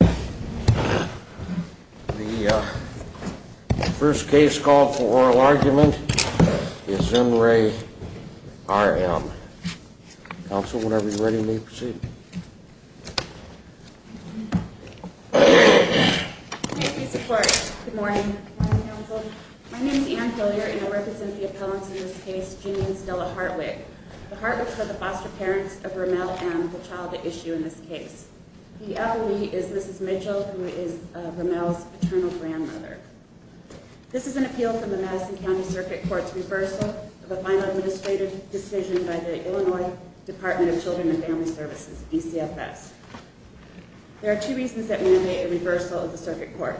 The first case called for oral argument is in Ray R. M. Council, whenever you're ready may proceed. Good morning. My name is Ann Hillier, and I represent the appellants in this case, Jimmy and Stella Hartwig. The Hartwigs are the foster parents of Ramel and the child at issue in this case. The appellee is Mrs. Mitchell, who is Ramel's paternal grandmother. This is an appeal from the Madison County Circuit Court's reversal of a final administrative decision by the Illinois Department of Children and Family Services, DCFS. There are two reasons that we invite a reversal of the circuit court.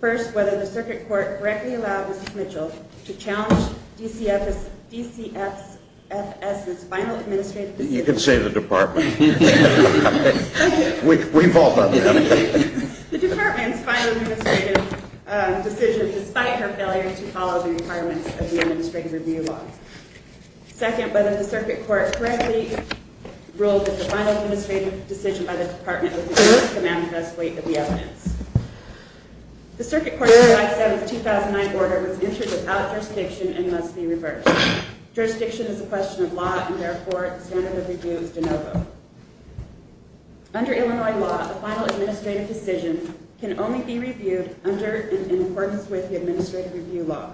First, whether the circuit court correctly allowed Mrs. Mitchell to challenge DCFS's final administrative decision. You can say the department. We've all done that. The department's final administrative decision, despite her failure to follow the requirements of the administrative review law. Second, whether the circuit court correctly ruled that the final administrative decision by the department was due to the manifest weight of the evidence. The circuit court's 2007-2009 order was entered without jurisdiction and must be reversed. Jurisdiction is a question of law, and therefore the standard of review is de novo. Under Illinois law, a final administrative decision can only be reviewed under and in accordance with the administrative review law.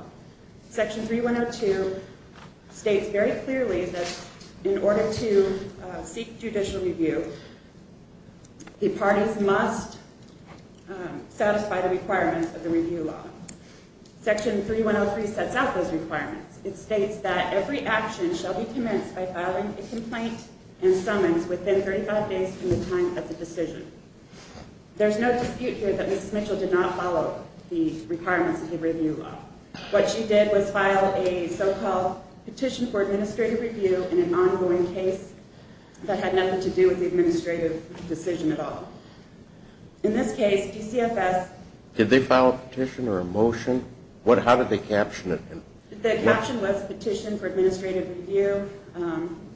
Section 3102 states very clearly that in order to seek judicial review, the parties must satisfy the requirements of the review law. Section 3103 sets out those requirements. It states that every action shall be commenced by filing a complaint and summons within 35 days from the time of the decision. There's no dispute here that Mrs. Mitchell did not follow the requirements of the review law. What she did was file a so-called petition for administrative review in an ongoing case that had nothing to do with the administrative decision at all. In this case, DCFS... Did they file a petition or a motion? How did they caption it? The caption was petition for administrative review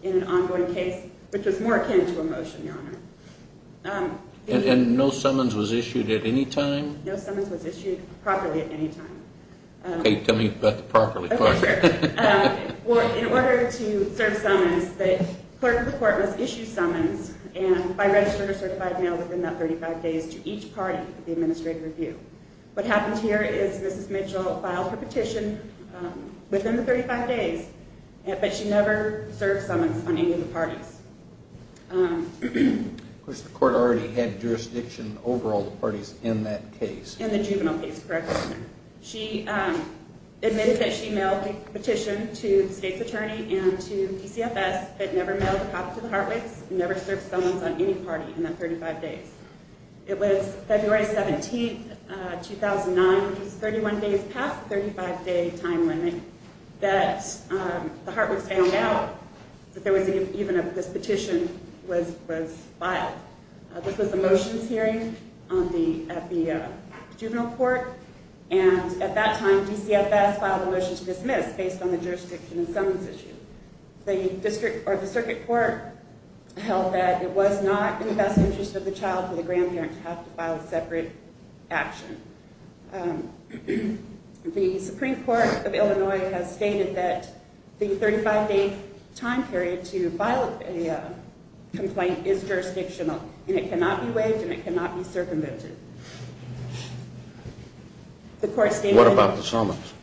in an ongoing case, which was more akin to a motion, Your Honor. And no summons was issued at any time? No summons was issued properly at any time. Okay, tell me about the properly part. Well, in order to serve summons, the clerk of the court must issue summons by register or certified mail within that 35 days to each party of the administrative review. What happened here is Mrs. Mitchell filed her petition within the 35 days, but she never served summons on any of the parties. Of course, the court already had jurisdiction over all the parties in that case. In the juvenile case, correct, Your Honor. She admitted that she mailed the petition to the state's attorney and to DCFS, but never mailed a copy to the Hartwigs and never served summons on any party in that 35 days. It was February 17, 2009, which is 31 days past the 35-day time limit, that the Hartwigs found out that even this petition was filed. This was a motions hearing at the juvenile court, and at that time DCFS filed a motion to dismiss based on the jurisdiction and summons issue. The circuit court held that it was not in the best interest of the child or the grandparent to have to file a separate action. The Supreme Court of Illinois has stated that the 35-day time period to file a complaint is jurisdictional, and it cannot be waived and it cannot be circumvented. What about the summons?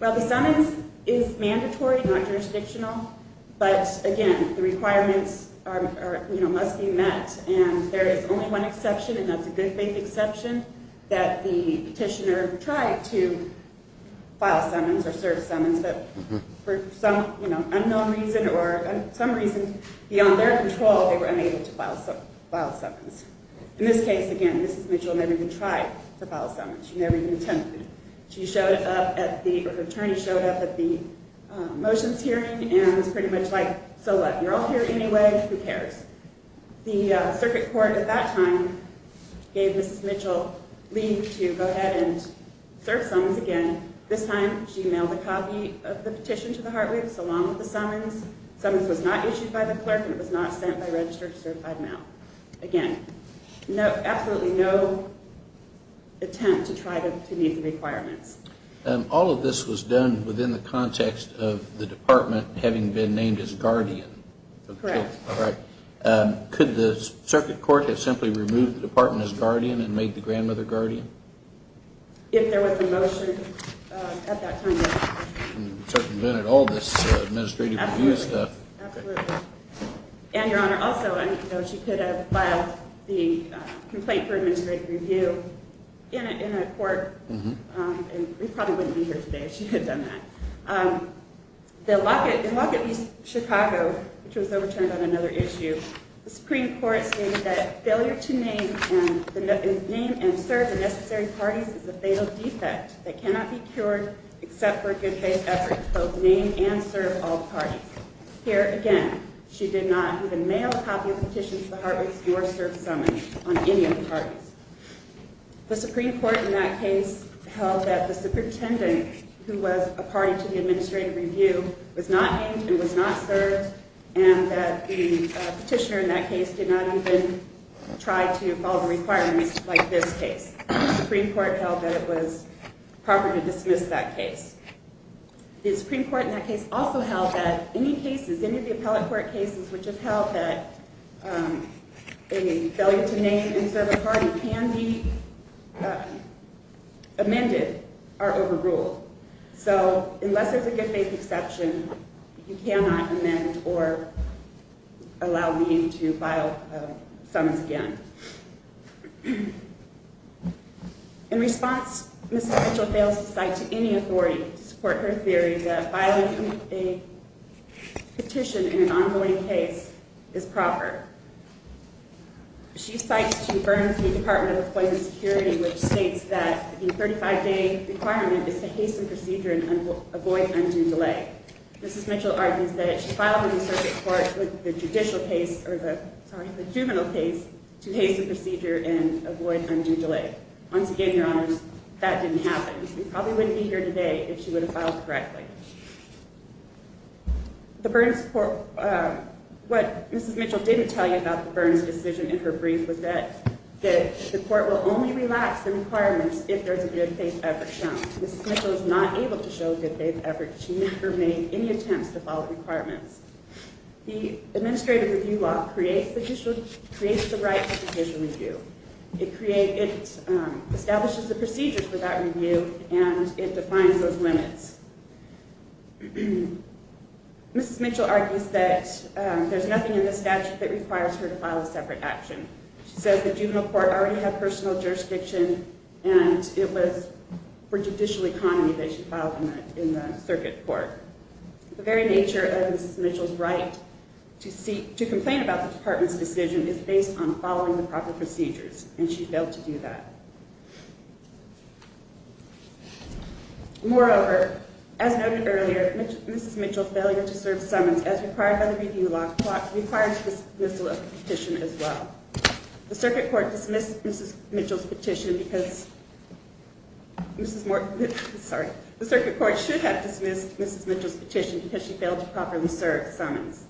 Well, the summons is mandatory, not jurisdictional, but again, the requirements must be met, and there is only one exception, and that's a good faith exception, that the petitioner tried to file summons or serve summons, but for some unknown reason or some reason beyond their control, they were unable to file summons. In this case, again, Mrs. Mitchell never even tried to file summons. She never even attempted. She showed up at the—her attorney showed up at the motions hearing and was pretty much like, so what? You're all here anyway. Who cares? The circuit court at that time gave Mrs. Mitchell leave to go ahead and serve summons again. This time, she mailed a copy of the petition to the Hartwiths along with the summons. Summons was not issued by the clerk and it was not sent by registered certified mail. Again, absolutely no attempt to try to meet the requirements. All of this was done within the context of the department having been named as guardian. Correct. All right. Could the circuit court have simply removed the department as guardian and made the grandmother guardian? If there was a motion at that time, yes. And circumvented all this administrative review stuff. Absolutely. And, Your Honor, also, she could have filed the complaint for administrative review in a court, and we probably wouldn't be here today if she had done that. In Lockett v. Chicago, which was overturned on another issue, the Supreme Court stated that failure to name and serve the necessary parties is a fatal defect that cannot be cured except for a good faith effort to both name and serve all parties. Here, again, she did not even mail a copy of the petition to the Hartwiths or serve summons on any of the parties. The Supreme Court in that case held that the superintendent, who was a party to the administrative review, was not named and was not served, and that the petitioner in that case did not even try to follow the requirements like this case. The Supreme Court held that it was proper to dismiss that case. The Supreme Court in that case also held that any cases, any of the appellate court cases, which have held that a failure to name and serve a party can be amended are overruled. So unless there's a good faith exception, you cannot amend or allow me to file summons again. In response, Ms. Mitchell fails to cite to any authority to support her theory that filing a petition in an ongoing case is proper. She cites to Burns v. Department of Employment Security, which states that the 35-day requirement is to hasten procedure and avoid undue delay. Mrs. Mitchell argues that if she filed in the circuit court with the judicial case, or the juvenile case, to hasten procedure and avoid undue delay. Once again, Your Honors, that didn't happen. We probably wouldn't be here today if she would have filed correctly. What Mrs. Mitchell didn't tell you about the Burns decision in her brief was that the court will only relax the requirements if there's a good faith effort shown. Mrs. Mitchell is not able to show a good faith effort. She never made any attempts to follow the requirements. The administrative review law creates the right to petition review. It establishes the procedures for that review, and it defines those limits. Mrs. Mitchell argues that there's nothing in the statute that requires her to file a separate action. She says the juvenile court already had personal jurisdiction, and it was for judicial economy that she filed in the circuit court. The very nature of Mrs. Mitchell's right to complain about the department's decision is based on following the proper procedures, and she failed to do that. Moreover, as noted earlier, Mrs. Mitchell's failure to serve summons, as required by the review law, requires the dismissal of the petition as well. The circuit court should have dismissed Mrs. Mitchell's petition because she failed to properly serve summons.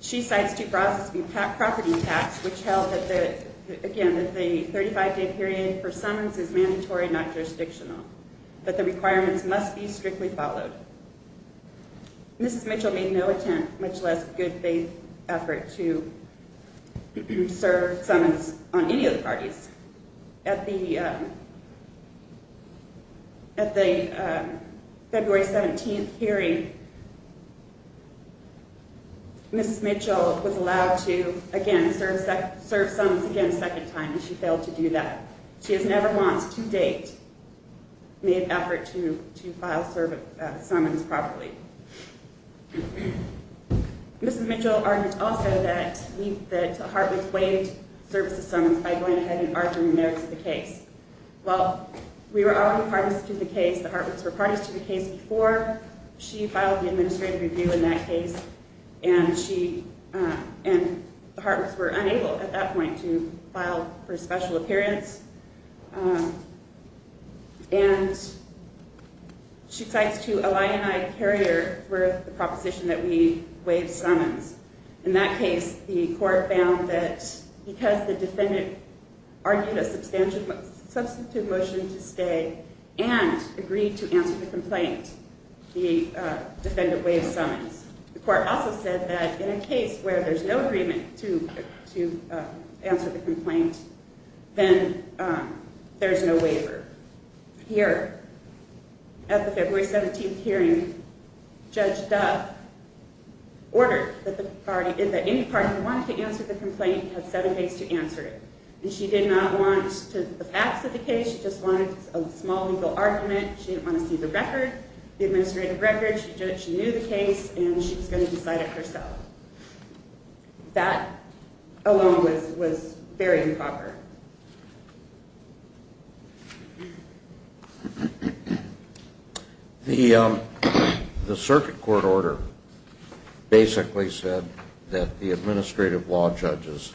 She cites due process property tax, which held that the 35-day period for summons is mandatory, not jurisdictional, but the requirements must be strictly followed. Mrs. Mitchell made no attempt, much less good faith effort, to serve summons on any of the parties. At the February 17th hearing, Mrs. Mitchell was allowed to, again, serve summons a second time, and she failed to do that. She has never once, to date, made an effort to file summons properly. Mrs. Mitchell argued also that the Hartwoods waived services summons by going ahead and arguing no to the case. Well, we were already parties to the case, the Hartwoods were parties to the case before she filed the administrative review in that case, and the Hartwoods were unable, at that point, to file for special appearance. She cites, too, a lion-eye carrier for the proposition that we waive summons. In that case, the court found that because the defendant argued a substantive motion to stay and agreed to answer the complaint, the defendant waived summons. The court also said that in a case where there's no agreement to answer the complaint, then there's no waiver. Here, at the February 17th hearing, Judge Duff ordered that any party that wanted to answer the complaint had seven days to answer it. And she did not want the facts of the case, she just wanted a small legal argument. She didn't want to see the record, the administrative record. She knew the case, and she was going to decide it herself. That alone was very improper. The circuit court order basically said that the administrative law judge's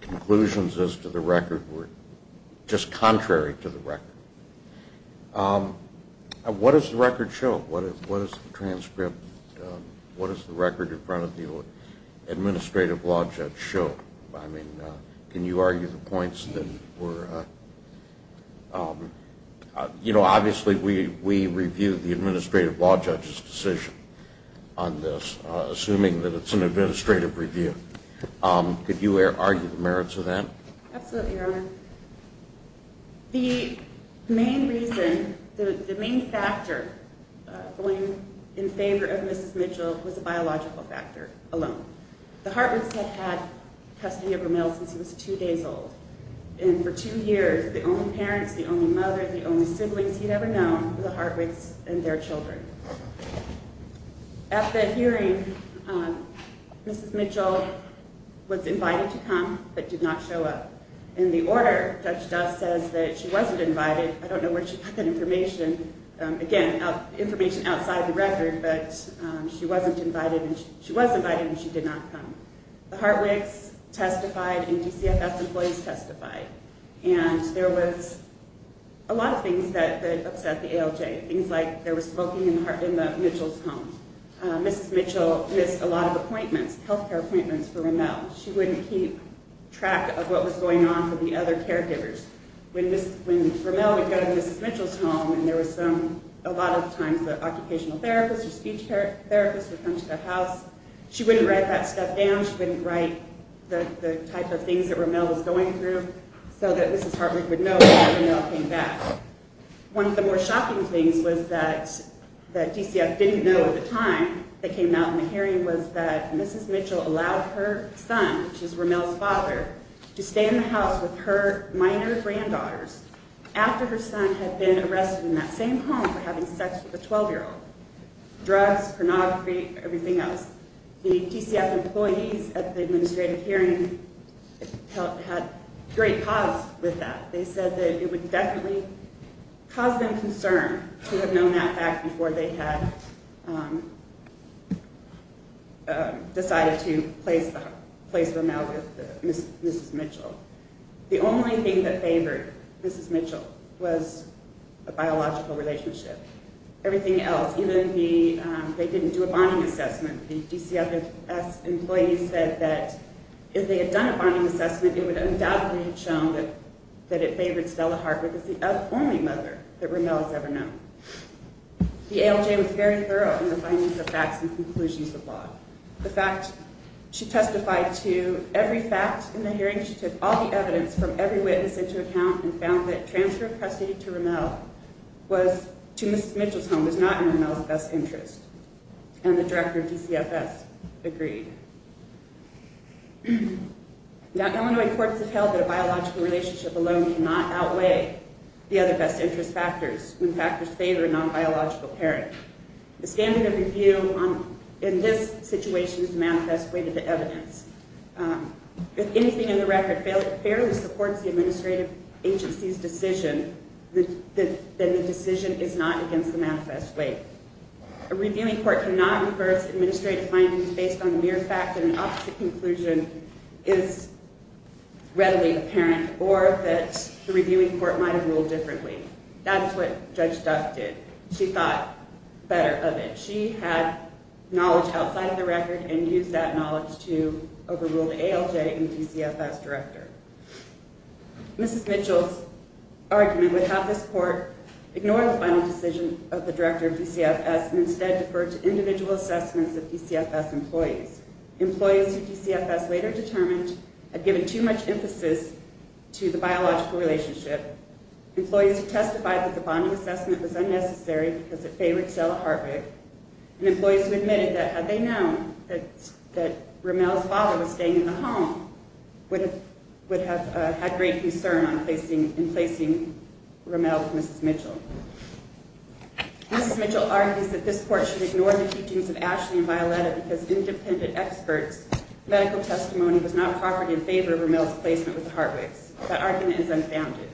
conclusions as to the record were just contrary to the record. What does the record show? What does the transcript, what does the record in front of the administrative law judge show? I mean, can you argue the points that were... You know, obviously, we review the administrative law judge's decision on this, assuming that it's an administrative review. Could you argue the merits of that? Absolutely, Your Honor. The main reason, the main factor going in favor of Mrs. Mitchell was a biological factor alone. The Hartwigs had had custody of Rommel since he was two days old. And for two years, the only parents, the only mother, the only siblings he'd ever known were the Hartwigs and their children. At the hearing, Mrs. Mitchell was invited to come, but did not show up. In the order, Judge Dust says that she wasn't invited. I don't know where she got that information. Again, information outside the record, but she was invited and she did not come. The Hartwigs testified and DCFS employees testified. And there was a lot of things that upset the ALJ, things like there was smoking in Mitchell's home. Mrs. Mitchell missed a lot of appointments, health care appointments for Rommel. She wouldn't keep track of what was going on for the other caregivers. When Rommel would go to Mrs. Mitchell's home and there was some, a lot of times the occupational therapist or speech therapist would come to the house, she wouldn't write that stuff down. She wouldn't write the type of things that Rommel was going through so that Mrs. Hartwig would know when Rommel came back. One of the more shocking things was that DCFS didn't know at the time, that came out in the hearing was that Mrs. Mitchell allowed her son, which is Rommel's father, to stay in the house with her minor granddaughters after her son had been arrested in that same home for having sex with a 12-year-old. Drugs, pornography, everything else. The DCFS employees at the administrative hearing had great cause with that. They said that it would definitely cause them concern to have known that fact before they had decided to place Rommel with Mrs. Mitchell. The only thing that favored Mrs. Mitchell was a biological relationship. Everything else, even the, they didn't do a bonding assessment. The DCFS employees said that if they had done a bonding assessment, it would undoubtedly have shown that it favored Stella Hartwig as the only mother that Rommel has ever known. The ALJ was very thorough in the findings of facts and conclusions of law. The fact, she testified to every fact in the hearing. She took all the evidence from every witness into account and found that transfer of custody to Rommel was, to Mrs. Mitchell's home was not in Rommel's best interest. And the director of DCFS agreed. Now, Illinois courts have held that a biological relationship alone cannot outweigh the other best interest factors when factors favor a non-biological parent. The standard of review in this situation is manifest weight of the evidence. If anything in the record fairly supports the administrative agency's decision, then the decision is not against the manifest weight. A reviewing court cannot reverse administrative findings based on mere facts and an opposite conclusion is readily apparent or that the reviewing court might have ruled differently. That's what Judge Duff did. She thought better of it. She had knowledge outside of the record and used that knowledge to overrule the ALJ and DCFS director. Mrs. Mitchell's argument would have this court ignore the final decision of the director of DCFS and instead defer to individual assessments of DCFS employees. Employees who DCFS later determined had given too much emphasis to the biological relationship, employees who testified that the bonding assessment was unnecessary because it favored Stella Hartwig, and employees who admitted that had they known that Rommel's father was staying in the home would have had great concern in placing Rommel with Mrs. Mitchell. Mrs. Mitchell argues that this court should ignore the teachings of Ashley and Violetta because independent experts' medical testimony was not proffered in favor of Rommel's placement with the Hartwigs. That argument is unfounded.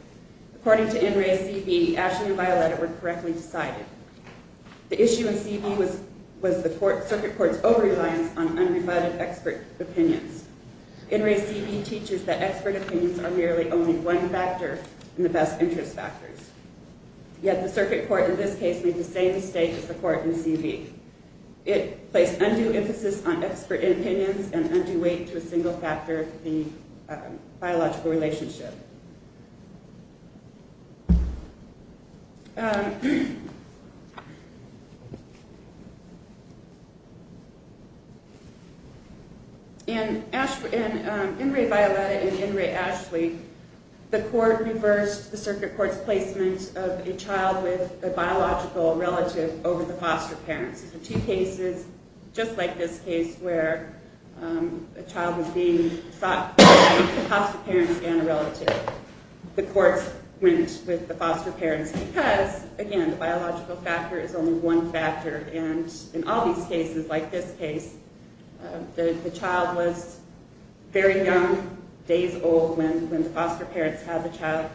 According to NRA's CV, Ashley and Violetta were correctly decided. The issue in CV was the circuit court's over-reliance on unrefined expert opinions. NRA's CV teaches that expert opinions are merely only one factor in the best interest factors. Yet the circuit court in this case made the same mistake as the court in CV. It placed undue emphasis on expert opinions and undue weight to a single factor, the biological relationship. In NRA Violetta and NRA Ashley, the court reversed the circuit court's placement of a child with a biological relative over the foster parents. It's two cases just like this case where a child was being sought by the foster parents and a relative. The court went with the foster parents because, again, the biological factor is only one factor. In all these cases, like this case, the child was very young, days old, when the foster parents had the child.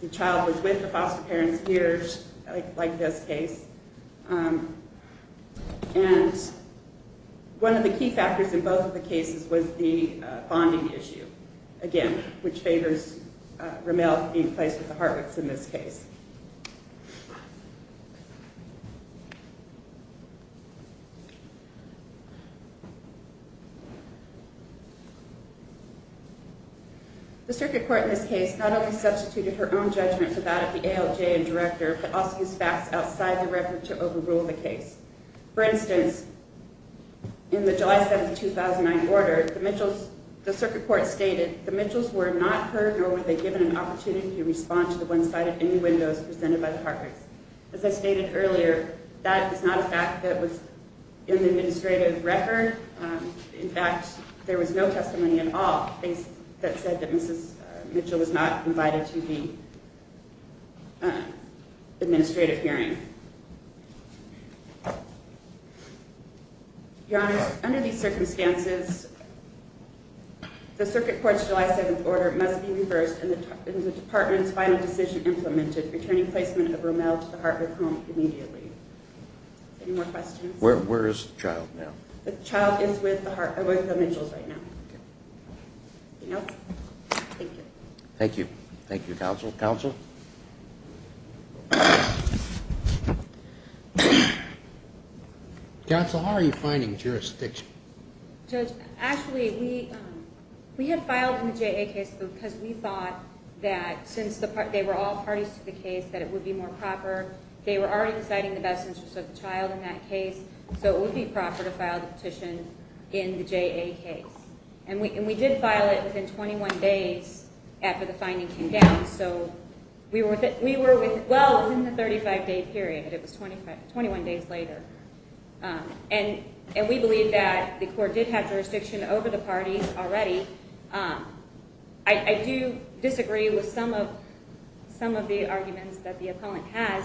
The child was with the foster parents years, like this case. One of the key factors in both of the cases was the bonding issue, again, which favors Ramel being placed with the Hartwicks in this case. The circuit court in this case not only substituted her own judgment for that of the ALJ and director, but also used facts outside the record to overrule the case. For instance, in the July 7, 2009 order, the circuit court stated, the Mitchells were not heard nor were they given an opportunity to respond to the one-sided any windows presented by the Hartwicks. As I stated earlier, that is not a fact that was in the administrative record. In fact, there was no testimony at all that said that Mrs. Mitchell was not invited to the administrative hearing. Your Honor, under these circumstances, the circuit court's July 7 order must be reversed and the department's final decision implemented, returning placement of Ramel to the Hartwick home immediately. Any more questions? Where is the child now? The child is with the Mitchells right now. Anyone else? Thank you. Thank you. Thank you, counsel. Counsel? Counsel, how are you finding jurisdiction? Judge, actually, we had filed in the JA case because we thought that since they were all parties to the case, that it would be more proper. They were already deciding the best interest of the child in that case, so it would be proper to file the petition in the JA case. And we did file it within 21 days after the finding came down. So we were well within the 35-day period. It was 21 days later. And we believe that the court did have jurisdiction over the parties already. I do disagree with some of the arguments that the appellant has.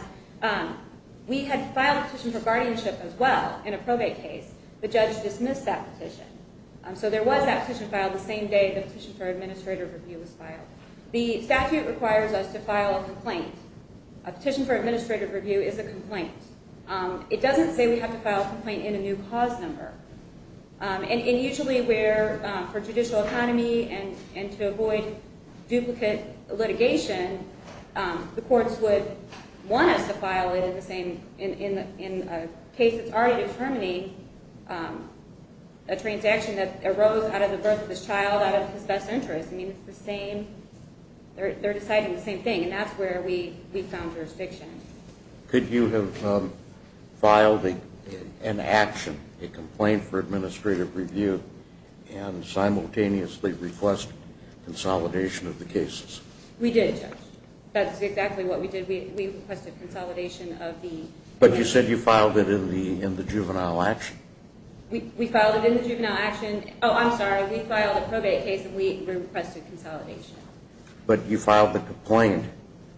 We had filed a petition for guardianship as well in a probate case. The judge dismissed that petition. So there was that petition filed the same day the petition for administrative review was filed. The statute requires us to file a complaint. A petition for administrative review is a complaint. It doesn't say we have to file a complaint in a new cause number. And usually where for judicial economy and to avoid duplicate litigation, the courts would want us to file it in a case that's already determined, a transaction that arose out of the birth of this child out of his best interest. I mean, it's the same. They're deciding the same thing, and that's where we found jurisdiction. Could you have filed an action, a complaint for administrative review, and simultaneously request consolidation of the cases? We did, Judge. That's exactly what we did. We requested consolidation of the cases. But you said you filed it in the juvenile action. We filed it in the juvenile action. Oh, I'm sorry. We filed a probate case, and we requested consolidation. But you filed the complaint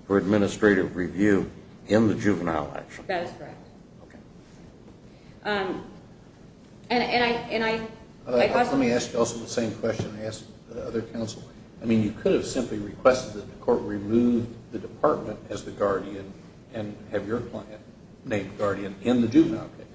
for administrative review in the juvenile action. That is correct. Let me ask you also the same question I asked the other counsel. I mean, you could have simply requested that the court remove the department as the guardian and have your client named guardian in the juvenile case.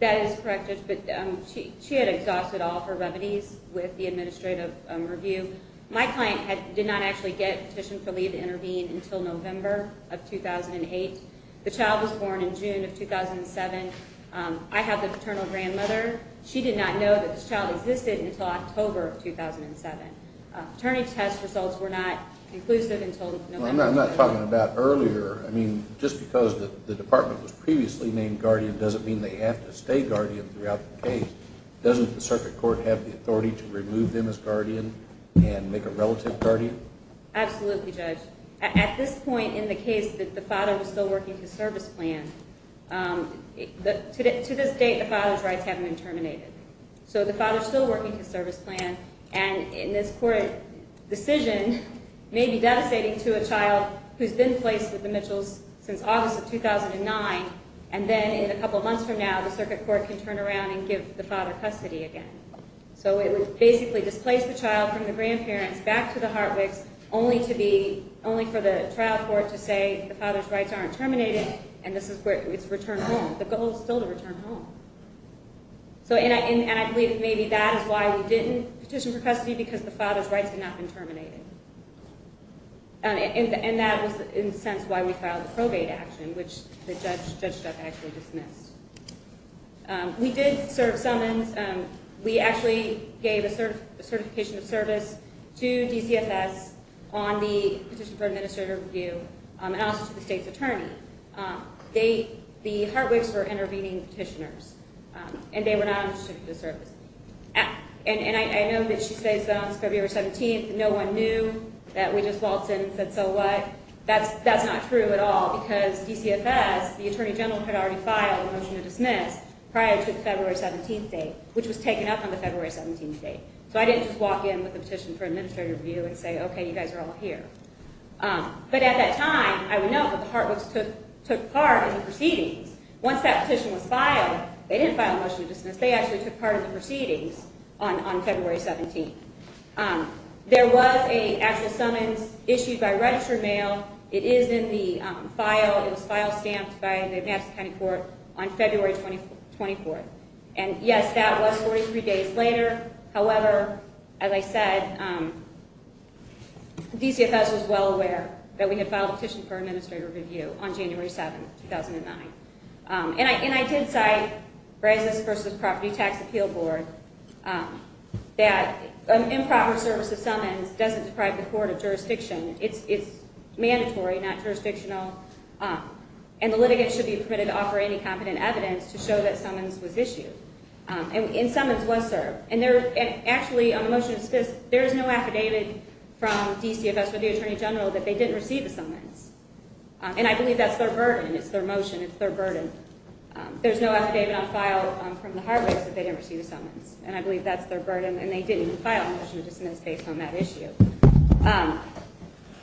That is correct, Judge, but she had exhausted all her remedies with the administrative review. My client did not actually get petition for leave to intervene until November of 2008. The child was born in June of 2007. I have the paternal grandmother. She did not know that this child existed until October of 2007. Attorney's test results were not conclusive until November. I'm not talking about earlier. I mean, just because the department was previously named guardian doesn't mean they have to stay guardian throughout the case. Doesn't the circuit court have the authority to remove them as guardian and make a relative guardian? Absolutely, Judge. At this point in the case that the father was still working his service plan, to this date the father's rights haven't been terminated. So the father's still working his service plan, and this court decision may be devastating to a child who's been placed with the Mitchells since August of 2009, and then in a couple of months from now the circuit court can turn around and give the father custody again. So it would basically displace the child from the grandparents back to the Hartwicks, only for the trial court to say the father's rights aren't terminated and it's returned home. The goal is still to return home. And I believe maybe that is why we didn't petition for custody, because the father's rights had not been terminated. And that was, in a sense, why we filed a probate action, which the judge actually dismissed. We did serve summons. We actually gave a certification of service to DCFS on the petition for administrative review and also to the state's attorney. The Hartwicks were intervening petitioners, and they were not interested in the service. And I know that she says on February 17th that no one knew, that we just waltzed in and said, so what? That's not true at all, because DCFS, the attorney general had already filed a motion to dismiss prior to the February 17th date, which was taken up on the February 17th date. So I didn't just walk in with a petition for administrative review and say, okay, you guys are all here. But at that time, I would note that the Hartwicks took part in the proceedings. Once that petition was filed, they didn't file a motion to dismiss. They actually took part in the proceedings on February 17th. There was an actual summons issued by registered mail. It is in the file. It was file stamped by the Madison County Court on February 24th. And, yes, that was 43 days later. However, as I said, DCFS was well aware that we had filed a petition for administrative review on January 7th, 2009. And I did cite Brazos v. Property Tax Appeal Board that improper service of summons doesn't deprive the court of jurisdiction. It's mandatory, not jurisdictional. And the litigant should be permitted to offer any competent evidence to show that summons was issued. And summons was served. And actually, on the motion of dismissal, there is no affidavit from DCFS or the Attorney General that they didn't receive the summons. And I believe that's their burden. It's their motion. It's their burden. There's no affidavit on file from the Hartwicks that they didn't receive the summons. And I believe that's their burden. And they didn't file a motion to dismiss based on that issue.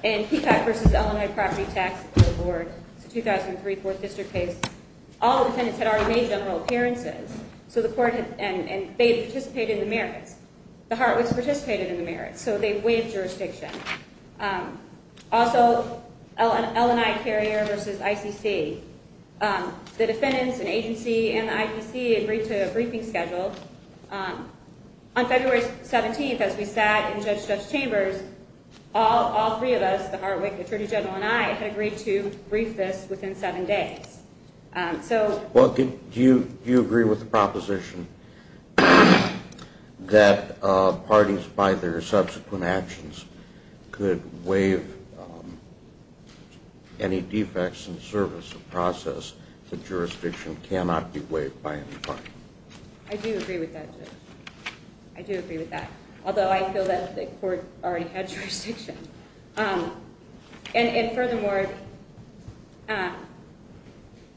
And Peacock v. Illinois Property Tax Appeal Board. It's a 2003 Fourth District case. All the defendants had already made general appearances. So the court had – and they had participated in the merits. The Hartwicks participated in the merits. So they waived jurisdiction. Also, Illinois Carrier v. ICC. The defendants, an agency, and the ICC agreed to a briefing schedule. On February 17th, as we sat in Judge Chambers, all three of us, the Hartwick Attorney General and I, had agreed to brief this within seven days. So – Well, do you agree with the proposition that parties, by their subsequent actions, could waive any defects in the service of process that jurisdiction cannot be waived by any party? I do agree with that, Judge. I do agree with that. Although I feel that the court already had jurisdiction. And furthermore,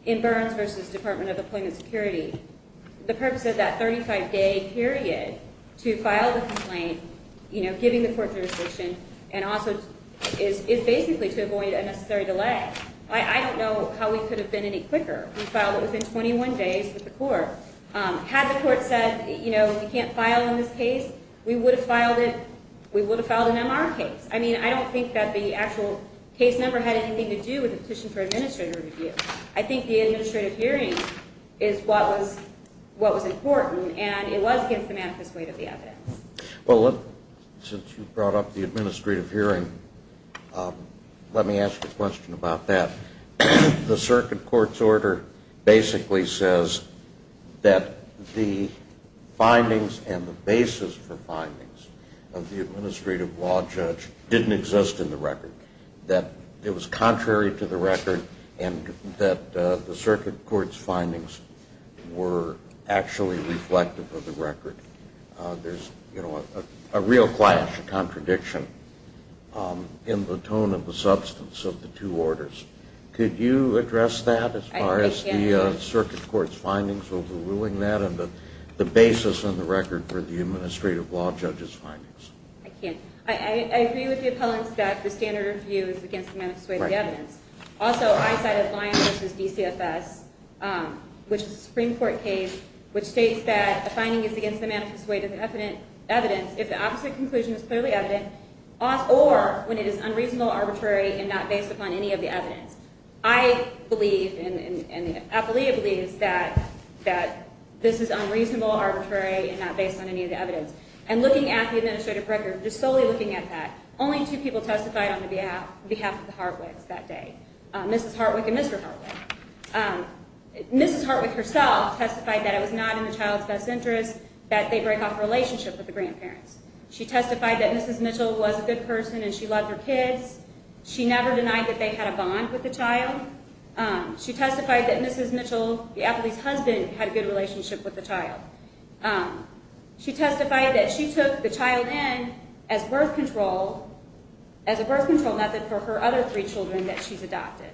in Burns v. Department of Employment Security, the purpose of that 35-day period to file the complaint, you know, giving the court jurisdiction, and also is basically to avoid unnecessary delay. I don't know how we could have been any quicker. We filed it within 21 days with the court. Had the court said, you know, you can't file in this case, we would have filed it – we would have filed an MR case. I mean, I don't think that the actual case number had anything to do with the petition for administrative review. I think the administrative hearing is what was important, and it was against the manifest weight of the evidence. Well, since you brought up the administrative hearing, let me ask a question about that. The circuit court's order basically says that the findings and the basis for findings of the administrative law judge didn't exist in the record. That it was contrary to the record, and that the circuit court's findings were actually reflective of the record. There's, you know, a real clash, a contradiction in the tone of the substance of the two orders. Could you address that as far as the circuit court's findings overruling that, and the basis in the record for the administrative law judge's findings? I can't. I agree with the appellants that the standard review is against the manifest weight of the evidence. Also, I cited Lyon v. DCFS, which is a Supreme Court case, which states that the finding is against the manifest weight of the evidence if the opposite conclusion is clearly evident, or when it is unreasonable, arbitrary, and not based upon any of the evidence. I believe, and the appellee believes, that this is unreasonable, arbitrary, and not based on any of the evidence. And looking at the administrative record, just solely looking at that, only two people testified on behalf of the Hartwigs that day, Mrs. Hartwig and Mr. Hartwig. Mrs. Hartwig herself testified that it was not in the child's best interest that they break off a relationship with the grandparents. She testified that Mrs. Mitchell was a good person, and she loved her kids. She never denied that they had a bond with the child. She testified that Mrs. Mitchell, the appellee's husband, had a good relationship with the child. She testified that she took the child in as a birth control method for her other three children that she's adopted.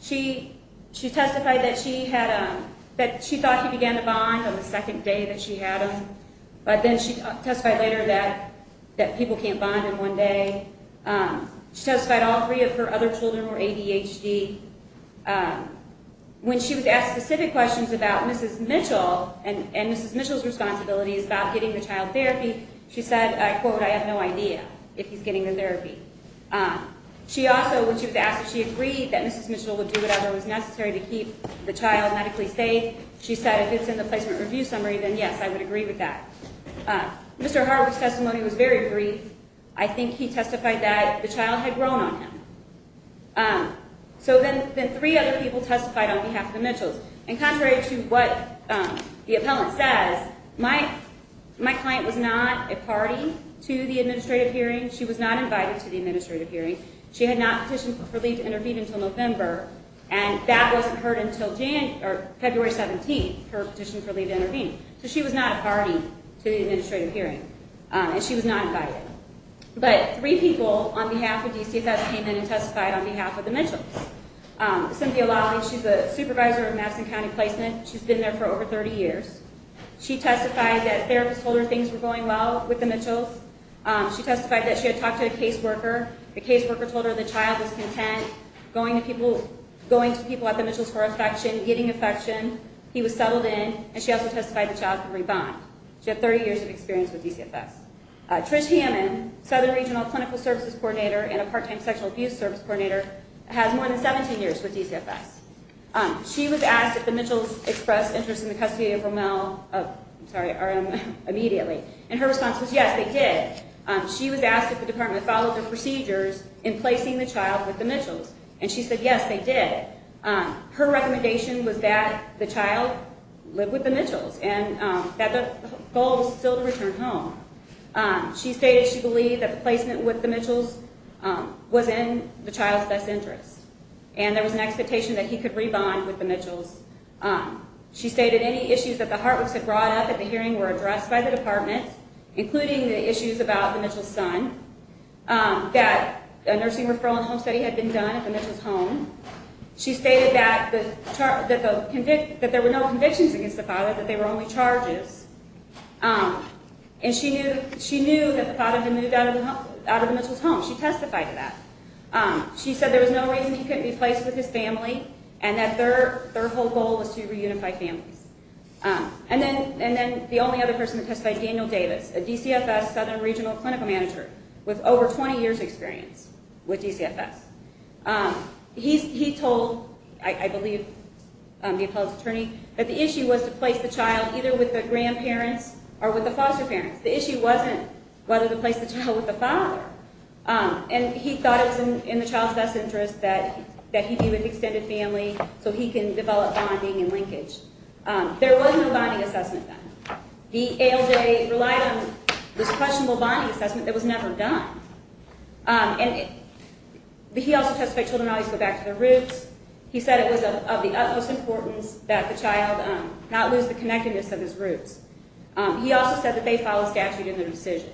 She testified that she thought he began to bond on the second day that she had him, but then she testified later that people can't bond in one day. She testified all three of her other children were ADHD. When she was asked specific questions about Mrs. Mitchell and Mrs. Mitchell's responsibilities about getting the child therapy, she said, I quote, I have no idea if he's getting the therapy. She also, when she was asked if she agreed that Mrs. Mitchell would do whatever was necessary to keep the child medically safe, she said if it's in the placement review summary, then yes, I would agree with that. Mr. Hartwig's testimony was very brief. I think he testified that the child had grown on him. So then three other people testified on behalf of the Mitchells. And contrary to what the appellant says, my client was not a party to the administrative hearing. She was not invited to the administrative hearing. She had not petitioned for leave to intervene until November, and that wasn't heard until February 17th, her petition for leave to intervene. So she was not a party to the administrative hearing, and she was not invited. But three people on behalf of DCFS came in and testified on behalf of the Mitchells. Cynthia Lawley, she's a supervisor of Madison County Placement. She's been there for over 30 years. She testified that therapists told her things were going well with the Mitchells. She testified that she had talked to a caseworker. The caseworker told her the child was content going to people at the Mitchells for affection, getting affection. He was settled in, and she also testified the child could rebond. She had 30 years of experience with DCFS. Trish Hammond, southern regional clinical services coordinator and a part-time sexual abuse service coordinator, has more than 17 years with DCFS. She was asked if the Mitchells expressed interest in the custody of Rommel immediately, and her response was yes, they did. She was asked if the department followed the procedures in placing the child with the Mitchells, and she said yes, they did. Her recommendation was that the child live with the Mitchells, and that the goal was still to return home. She stated she believed that the placement with the Mitchells was in the child's best interest, and there was an expectation that he could rebond with the Mitchells. She stated any issues that the Hartwicks had brought up at the hearing were addressed by the department, including the issues about the Mitchells' son, that a nursing referral and home study had been done at the Mitchells' home. She stated that there were no convictions against the father, that they were only charges, and she knew that the father had been moved out of the Mitchells' home. She testified to that. She said there was no reason he couldn't be placed with his family, and that their whole goal was to reunify families. And then the only other person that testified, Daniel Davis, a DCFS Southern Regional Clinical Manager, with over 20 years' experience with DCFS. He told, I believe, the appellate's attorney, that the issue was to place the child either with the grandparents or with the foster parents. The issue wasn't whether to place the child with the father, and he thought it was in the child's best interest that he be with extended family so he can develop bonding and linkage. There was no bonding assessment done. The ALJ relied on this questionable bonding assessment that was never done. He also testified children always go back to their roots. He said it was of the utmost importance that the child not lose the connectedness of his roots. He also said that they follow statute in their decision.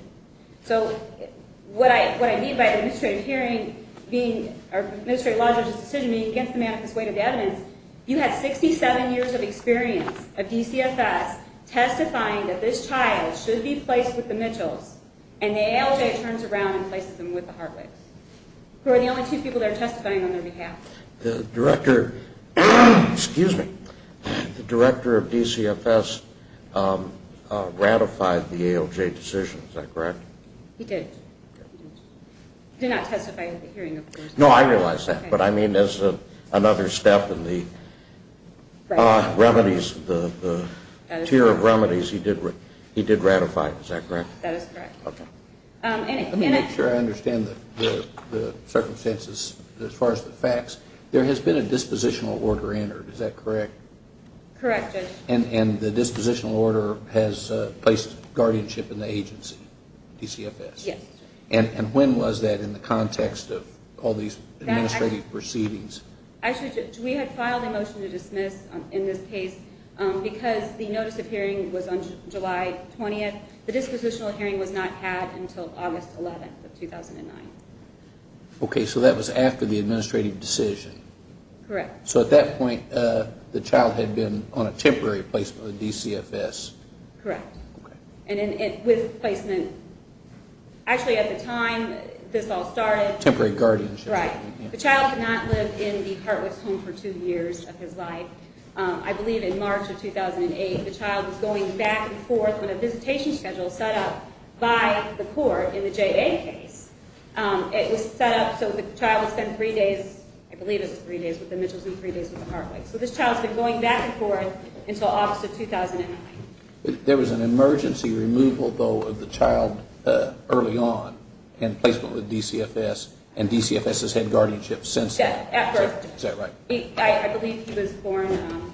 So what I mean by administrative hearing being, or administrative law judge's decision being against the manifest weight of evidence, you had 67 years of experience of DCFS testifying that this child should be placed with the Mitchells, and the ALJ turns around and places him with the Hartwigs, who are the only two people that are testifying on their behalf. The director of DCFS ratified the ALJ decision, is that correct? He did. He did not testify at the hearing, of course. No, I realize that, but I mean as another step in the remedies, the tier of remedies, he did ratify it, is that correct? That is correct. Let me make sure I understand the circumstances as far as the facts. There has been a dispositional order entered, is that correct? Correct, Judge. And the dispositional order has placed guardianship in the agency, DCFS? Yes. And when was that in the context of all these administrative proceedings? Actually, Judge, we had filed a motion to dismiss in this case because the notice of hearing was on July 20th. The dispositional hearing was not had until August 11th of 2009. Okay, so that was after the administrative decision? Correct. So at that point the child had been on a temporary placement with DCFS? Correct. And with placement, actually at the time this all started. Temporary guardianship. Right. The child did not live in the Hartwigs' home for two years of his life. I believe in March of 2008 the child was going back and forth when a visitation schedule was set up by the court in the J.A. case. It was set up so the child would spend three days, I believe it was three days with the Mitchells and three days with the Hartwigs. So this child has been going back and forth until August of 2009. There was an emergency removal, though, of the child early on in placement with DCFS and DCFS has had guardianship since then. Correct. Is that right? I believe he was born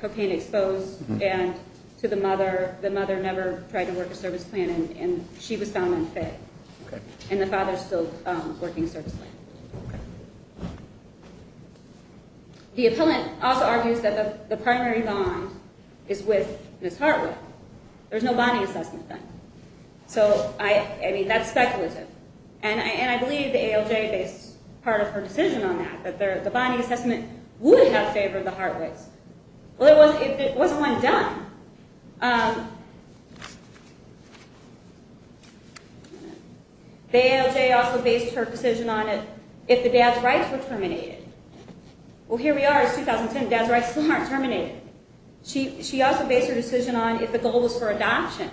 cocaine exposed and to the mother. The mother never tried to work a service plan and she was found unfit. Okay. And the father is still working a service plan. Okay. The appellant also argues that the primary bond is with Ms. Hartwig. There's no bonding assessment then. So, I mean, that's speculative. And I believe the ALJ based part of her decision on that, that the bonding assessment would have favored the Hartwigs. Well, it wasn't one done. The ALJ also based her decision on it if the dad's rights were terminated. Well, here we are. It's 2010. Dad's rights still aren't terminated. She also based her decision on if the goal was for adoption.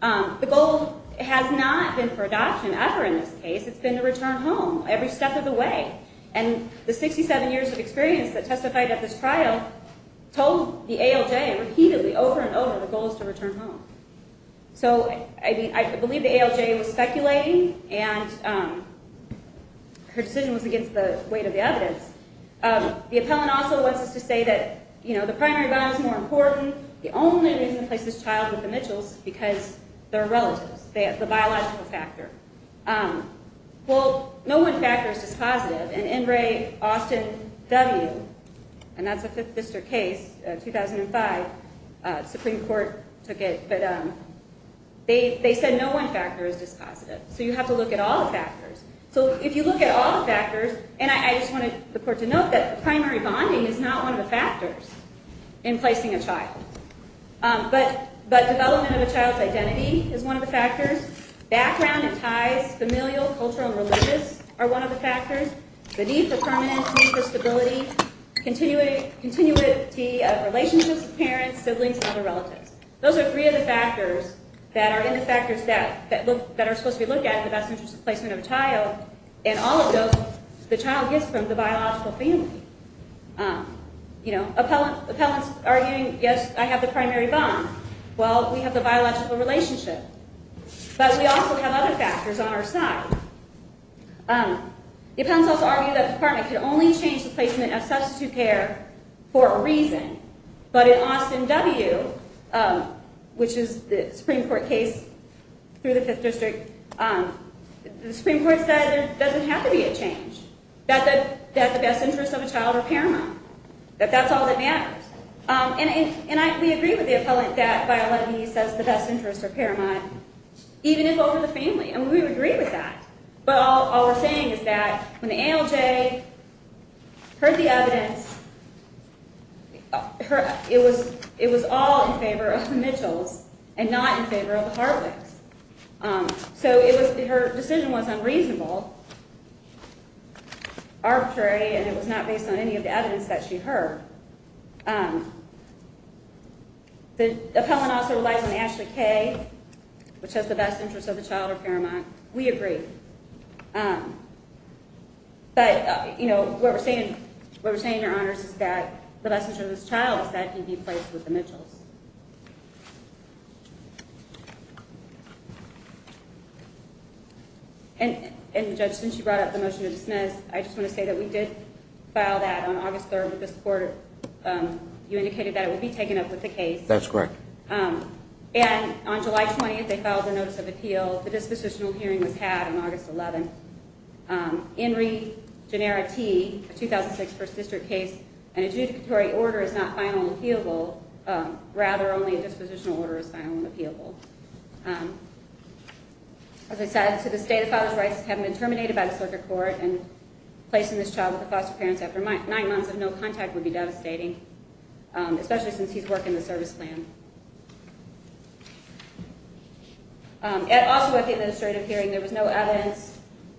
The goal has not been for adoption ever in this case. It's been to return home every step of the way. And the 67 years of experience that testified at this trial told the ALJ repeatedly over and over the goal is to return home. So, I believe the ALJ was speculating and her decision was against the weight of the evidence. The appellant also wants us to say that, you know, the primary bond is more important. The only reason to place this child with the Mitchells is because they're relatives. They have the biological factor. Well, no one factor is dispositive. And N. Ray, Austin, W. And that's a Fifth District case, 2005. Supreme Court took it. But they said no one factor is dispositive. So, you have to look at all the factors. So, if you look at all the factors, and I just want the court to note that primary bonding is not one of the factors in placing a child. But development of a child's identity is one of the factors. Background and ties, familial, cultural, and religious are one of the factors. The need for permanence, need for stability, continuity of relationships with parents, siblings, and other relatives. Those are three of the factors that are in the factors that are supposed to be looked at in the best interest of placement of a child. And all of those, the child gets from the biological family. You know, appellants arguing, yes, I have the primary bond. Well, we have the biological relationship. But we also have other factors on our side. The appellants also argue that the department can only change the placement of substitute care for a reason. But in Austin W., which is the Supreme Court case through the 5th District, the Supreme Court said it doesn't have to be a change. That the best interests of a child are paramount. That that's all that matters. And we agree with the appellant that by 11E says the best interests are paramount, even if over the family. And we would agree with that. But all we're saying is that when the ALJ heard the evidence, it was all in favor of the Mitchells and not in favor of the Hartwigs. So her decision was unreasonable, arbitrary, and it was not based on any of the evidence that she heard. The appellant also relies on Ashley Kay, which has the best interests of the child are paramount. We agree. But what we're saying, Your Honors, is that the best interests of this child is that he be placed with the Mitchells. And, Judge, since you brought up the motion to dismiss, I just want to say that we did file that on August 3rd with this court. You indicated that it would be taken up with the case. That's correct. And on July 20th, they filed a notice of appeal. The dispositional hearing was had on August 11th. In re genera te, a 2006 First District case, an adjudicatory order is not final and appealable. Rather, only a dispositional order is final and appealable. As I said, to the state, the father's rights have been terminated by the circuit court. And placing this child with the foster parents after nine months of no contact would be devastating, especially since he's working the service plan. Also at the administrative hearing, there was no evidence,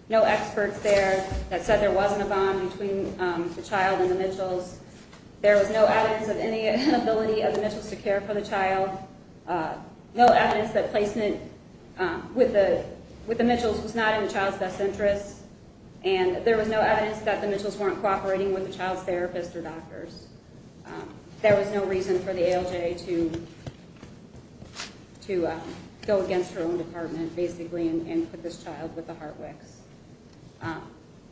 no experts there that said there wasn't a bond between the child and the Mitchells. There was no evidence of any inability of the Mitchells to care for the child. No evidence that placement with the Mitchells was not in the child's best interest. And there was no evidence that the Mitchells weren't cooperating with the child's therapist or doctors. There was no reason for the ALJ to go against her own department, basically, and put this child with the Hartwicks.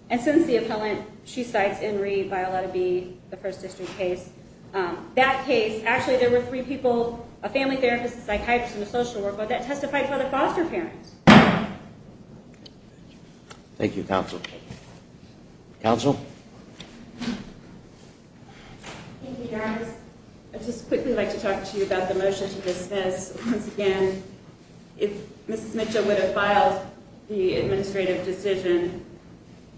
And since the appellant, she cites Enri, Violetta B, the First District case. That case, actually, there were three people, a family therapist, a psychiatrist, and a social worker that testified for the foster parents. Thank you, counsel. Thank you, Your Honor. I'd just quickly like to talk to you about the motion to dismiss. Once again, if Mrs. Mitchell would have filed the administrative decision,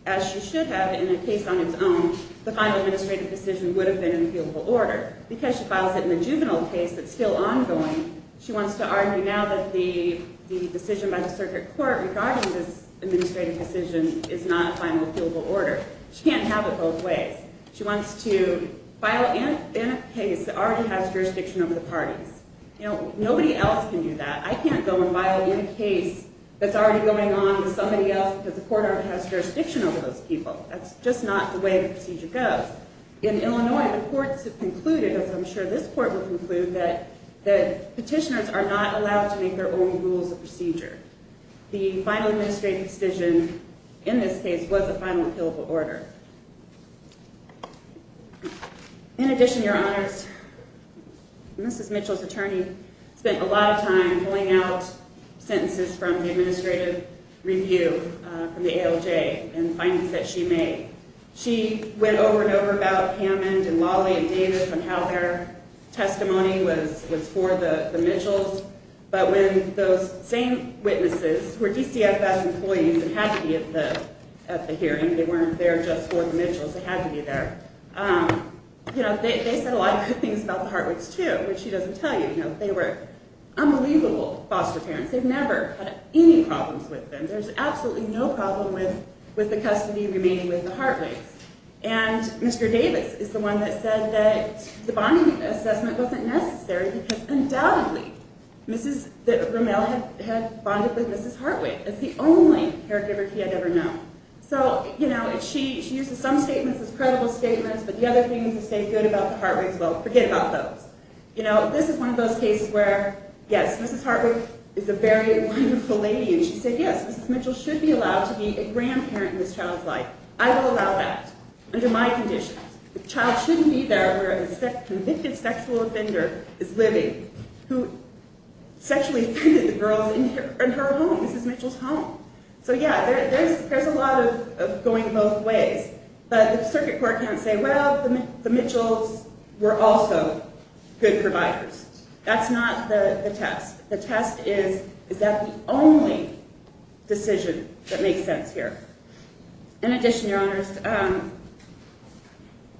as she should have in a case on its own, the final administrative decision would have been in appealable order. Because she files it in a juvenile case that's still ongoing, she wants to argue now that the decision by the circuit court regarding this administrative decision is not a final appealable order. She can't have it both ways. She wants to file in a case that already has jurisdiction over the parties. Nobody else can do that. I can't go and file in a case that's already going on with somebody else because the court already has jurisdiction over those people. That's just not the way the procedure goes. In Illinois, the courts have concluded, as I'm sure this court will conclude, that petitioners are not allowed to make their own rules of procedure. The final administrative decision in this case was a final appealable order. In addition, Your Honors, Mrs. Mitchell's attorney spent a lot of time pulling out sentences from the administrative review from the ALJ and the findings that she made. She went over and over about Hammond and Lawley and Davis and how their testimony was for the Mitchells. But when those same witnesses, who were DCFS employees and had to be at the hearing, they weren't there just for the Mitchells, they had to be there, they said a lot of good things about the Hartwigs too, which she doesn't tell you. They were unbelievable foster parents. They've never had any problems with them. There's absolutely no problem with the custody remaining with the Hartwigs. And Mr. Davis is the one that said that the bonding assessment wasn't necessary because undoubtedly Mrs. Rommel had bonded with Mrs. Hartwig as the only caregiver he had ever known. So, you know, she uses some statements as credible statements, but the other things that say good about the Hartwigs, well, forget about those. You know, this is one of those cases where, yes, Mrs. Hartwig is a very wonderful lady, and she said, yes, Mrs. Mitchell should be allowed to be a grandparent in this child's life. I will allow that under my conditions. The child shouldn't be there where a convicted sexual offender is living who sexually offended the girls in her home, Mrs. Mitchell's home. So, yeah, there's a lot of going both ways. But the circuit court can't say, well, the Mitchells were also good providers. That's not the test. The test is, is that the only decision that makes sense here? In addition, Your Honors,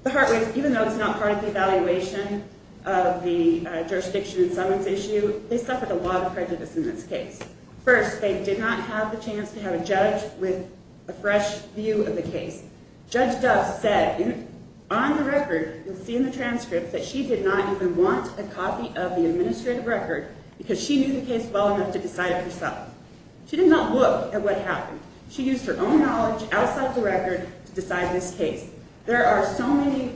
the Hartwigs, even though it's not part of the evaluation of the jurisdiction and summons issue, they suffered a lot of prejudice in this case. First, they did not have the chance to have a judge with a fresh view of the case. Judge Duff said on the record, you'll see in the transcript, that she did not even want a copy of the administrative record because she knew the case well enough to decide it herself. She did not look at what happened. She used her own knowledge outside the record to decide this case. There are so many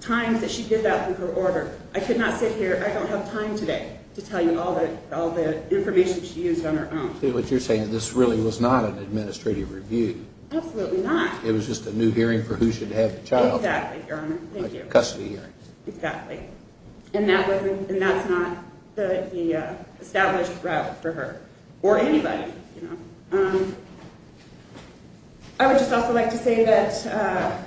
times that she did that with her order. I could not sit here. I don't have time today to tell you all the information she used on her own. See, what you're saying, this really was not an administrative review. Absolutely not. It was just a new hearing for who should have the child. Exactly, Your Honor. Thank you. A custody hearing. Exactly. And that's not the established route for her or anybody. I would just also like to say that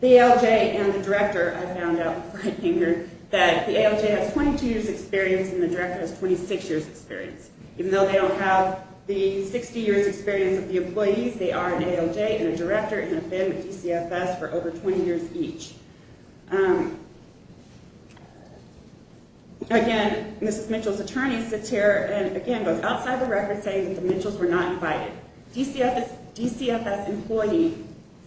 the ALJ and the director, I found out before I came here, that the ALJ has 22 years' experience and the director has 26 years' experience. Even though they don't have the 60 years' experience of the employees, they are an ALJ and a director and have been with DCFS for over 20 years each. Again, Mrs. Mitchell's attorney sits here and, again, goes outside the record saying that the Mitchells were not invited. DCFS employee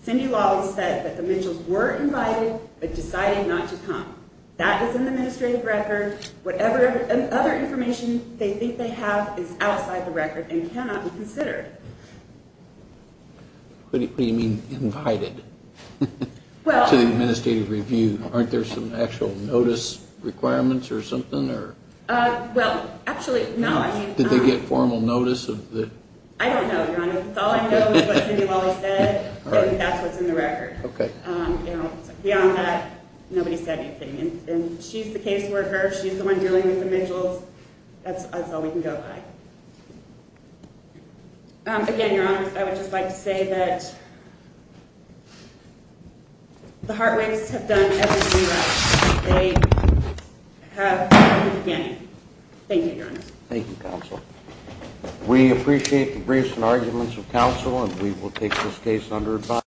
Cindy Lawley said that the Mitchells were invited but decided not to come. That is in the administrative record. Whatever other information they think they have is outside the record and cannot be considered. What do you mean invited to the administrative review? Aren't there some actual notice requirements or something? Well, actually, no. Did they get formal notice? I don't know, Your Honor. All I know is what Cindy Lawley said and that's what's in the record. Okay. Beyond that, nobody said anything. She's the caseworker. She's the one dealing with the Mitchells. That's all we can go by. Again, Your Honor, I would just like to say that the Hartwigs have done everything right. They have done it again. Thank you, Your Honor. Thank you, counsel. We appreciate the briefs and arguments of counsel and we will take this case under advice.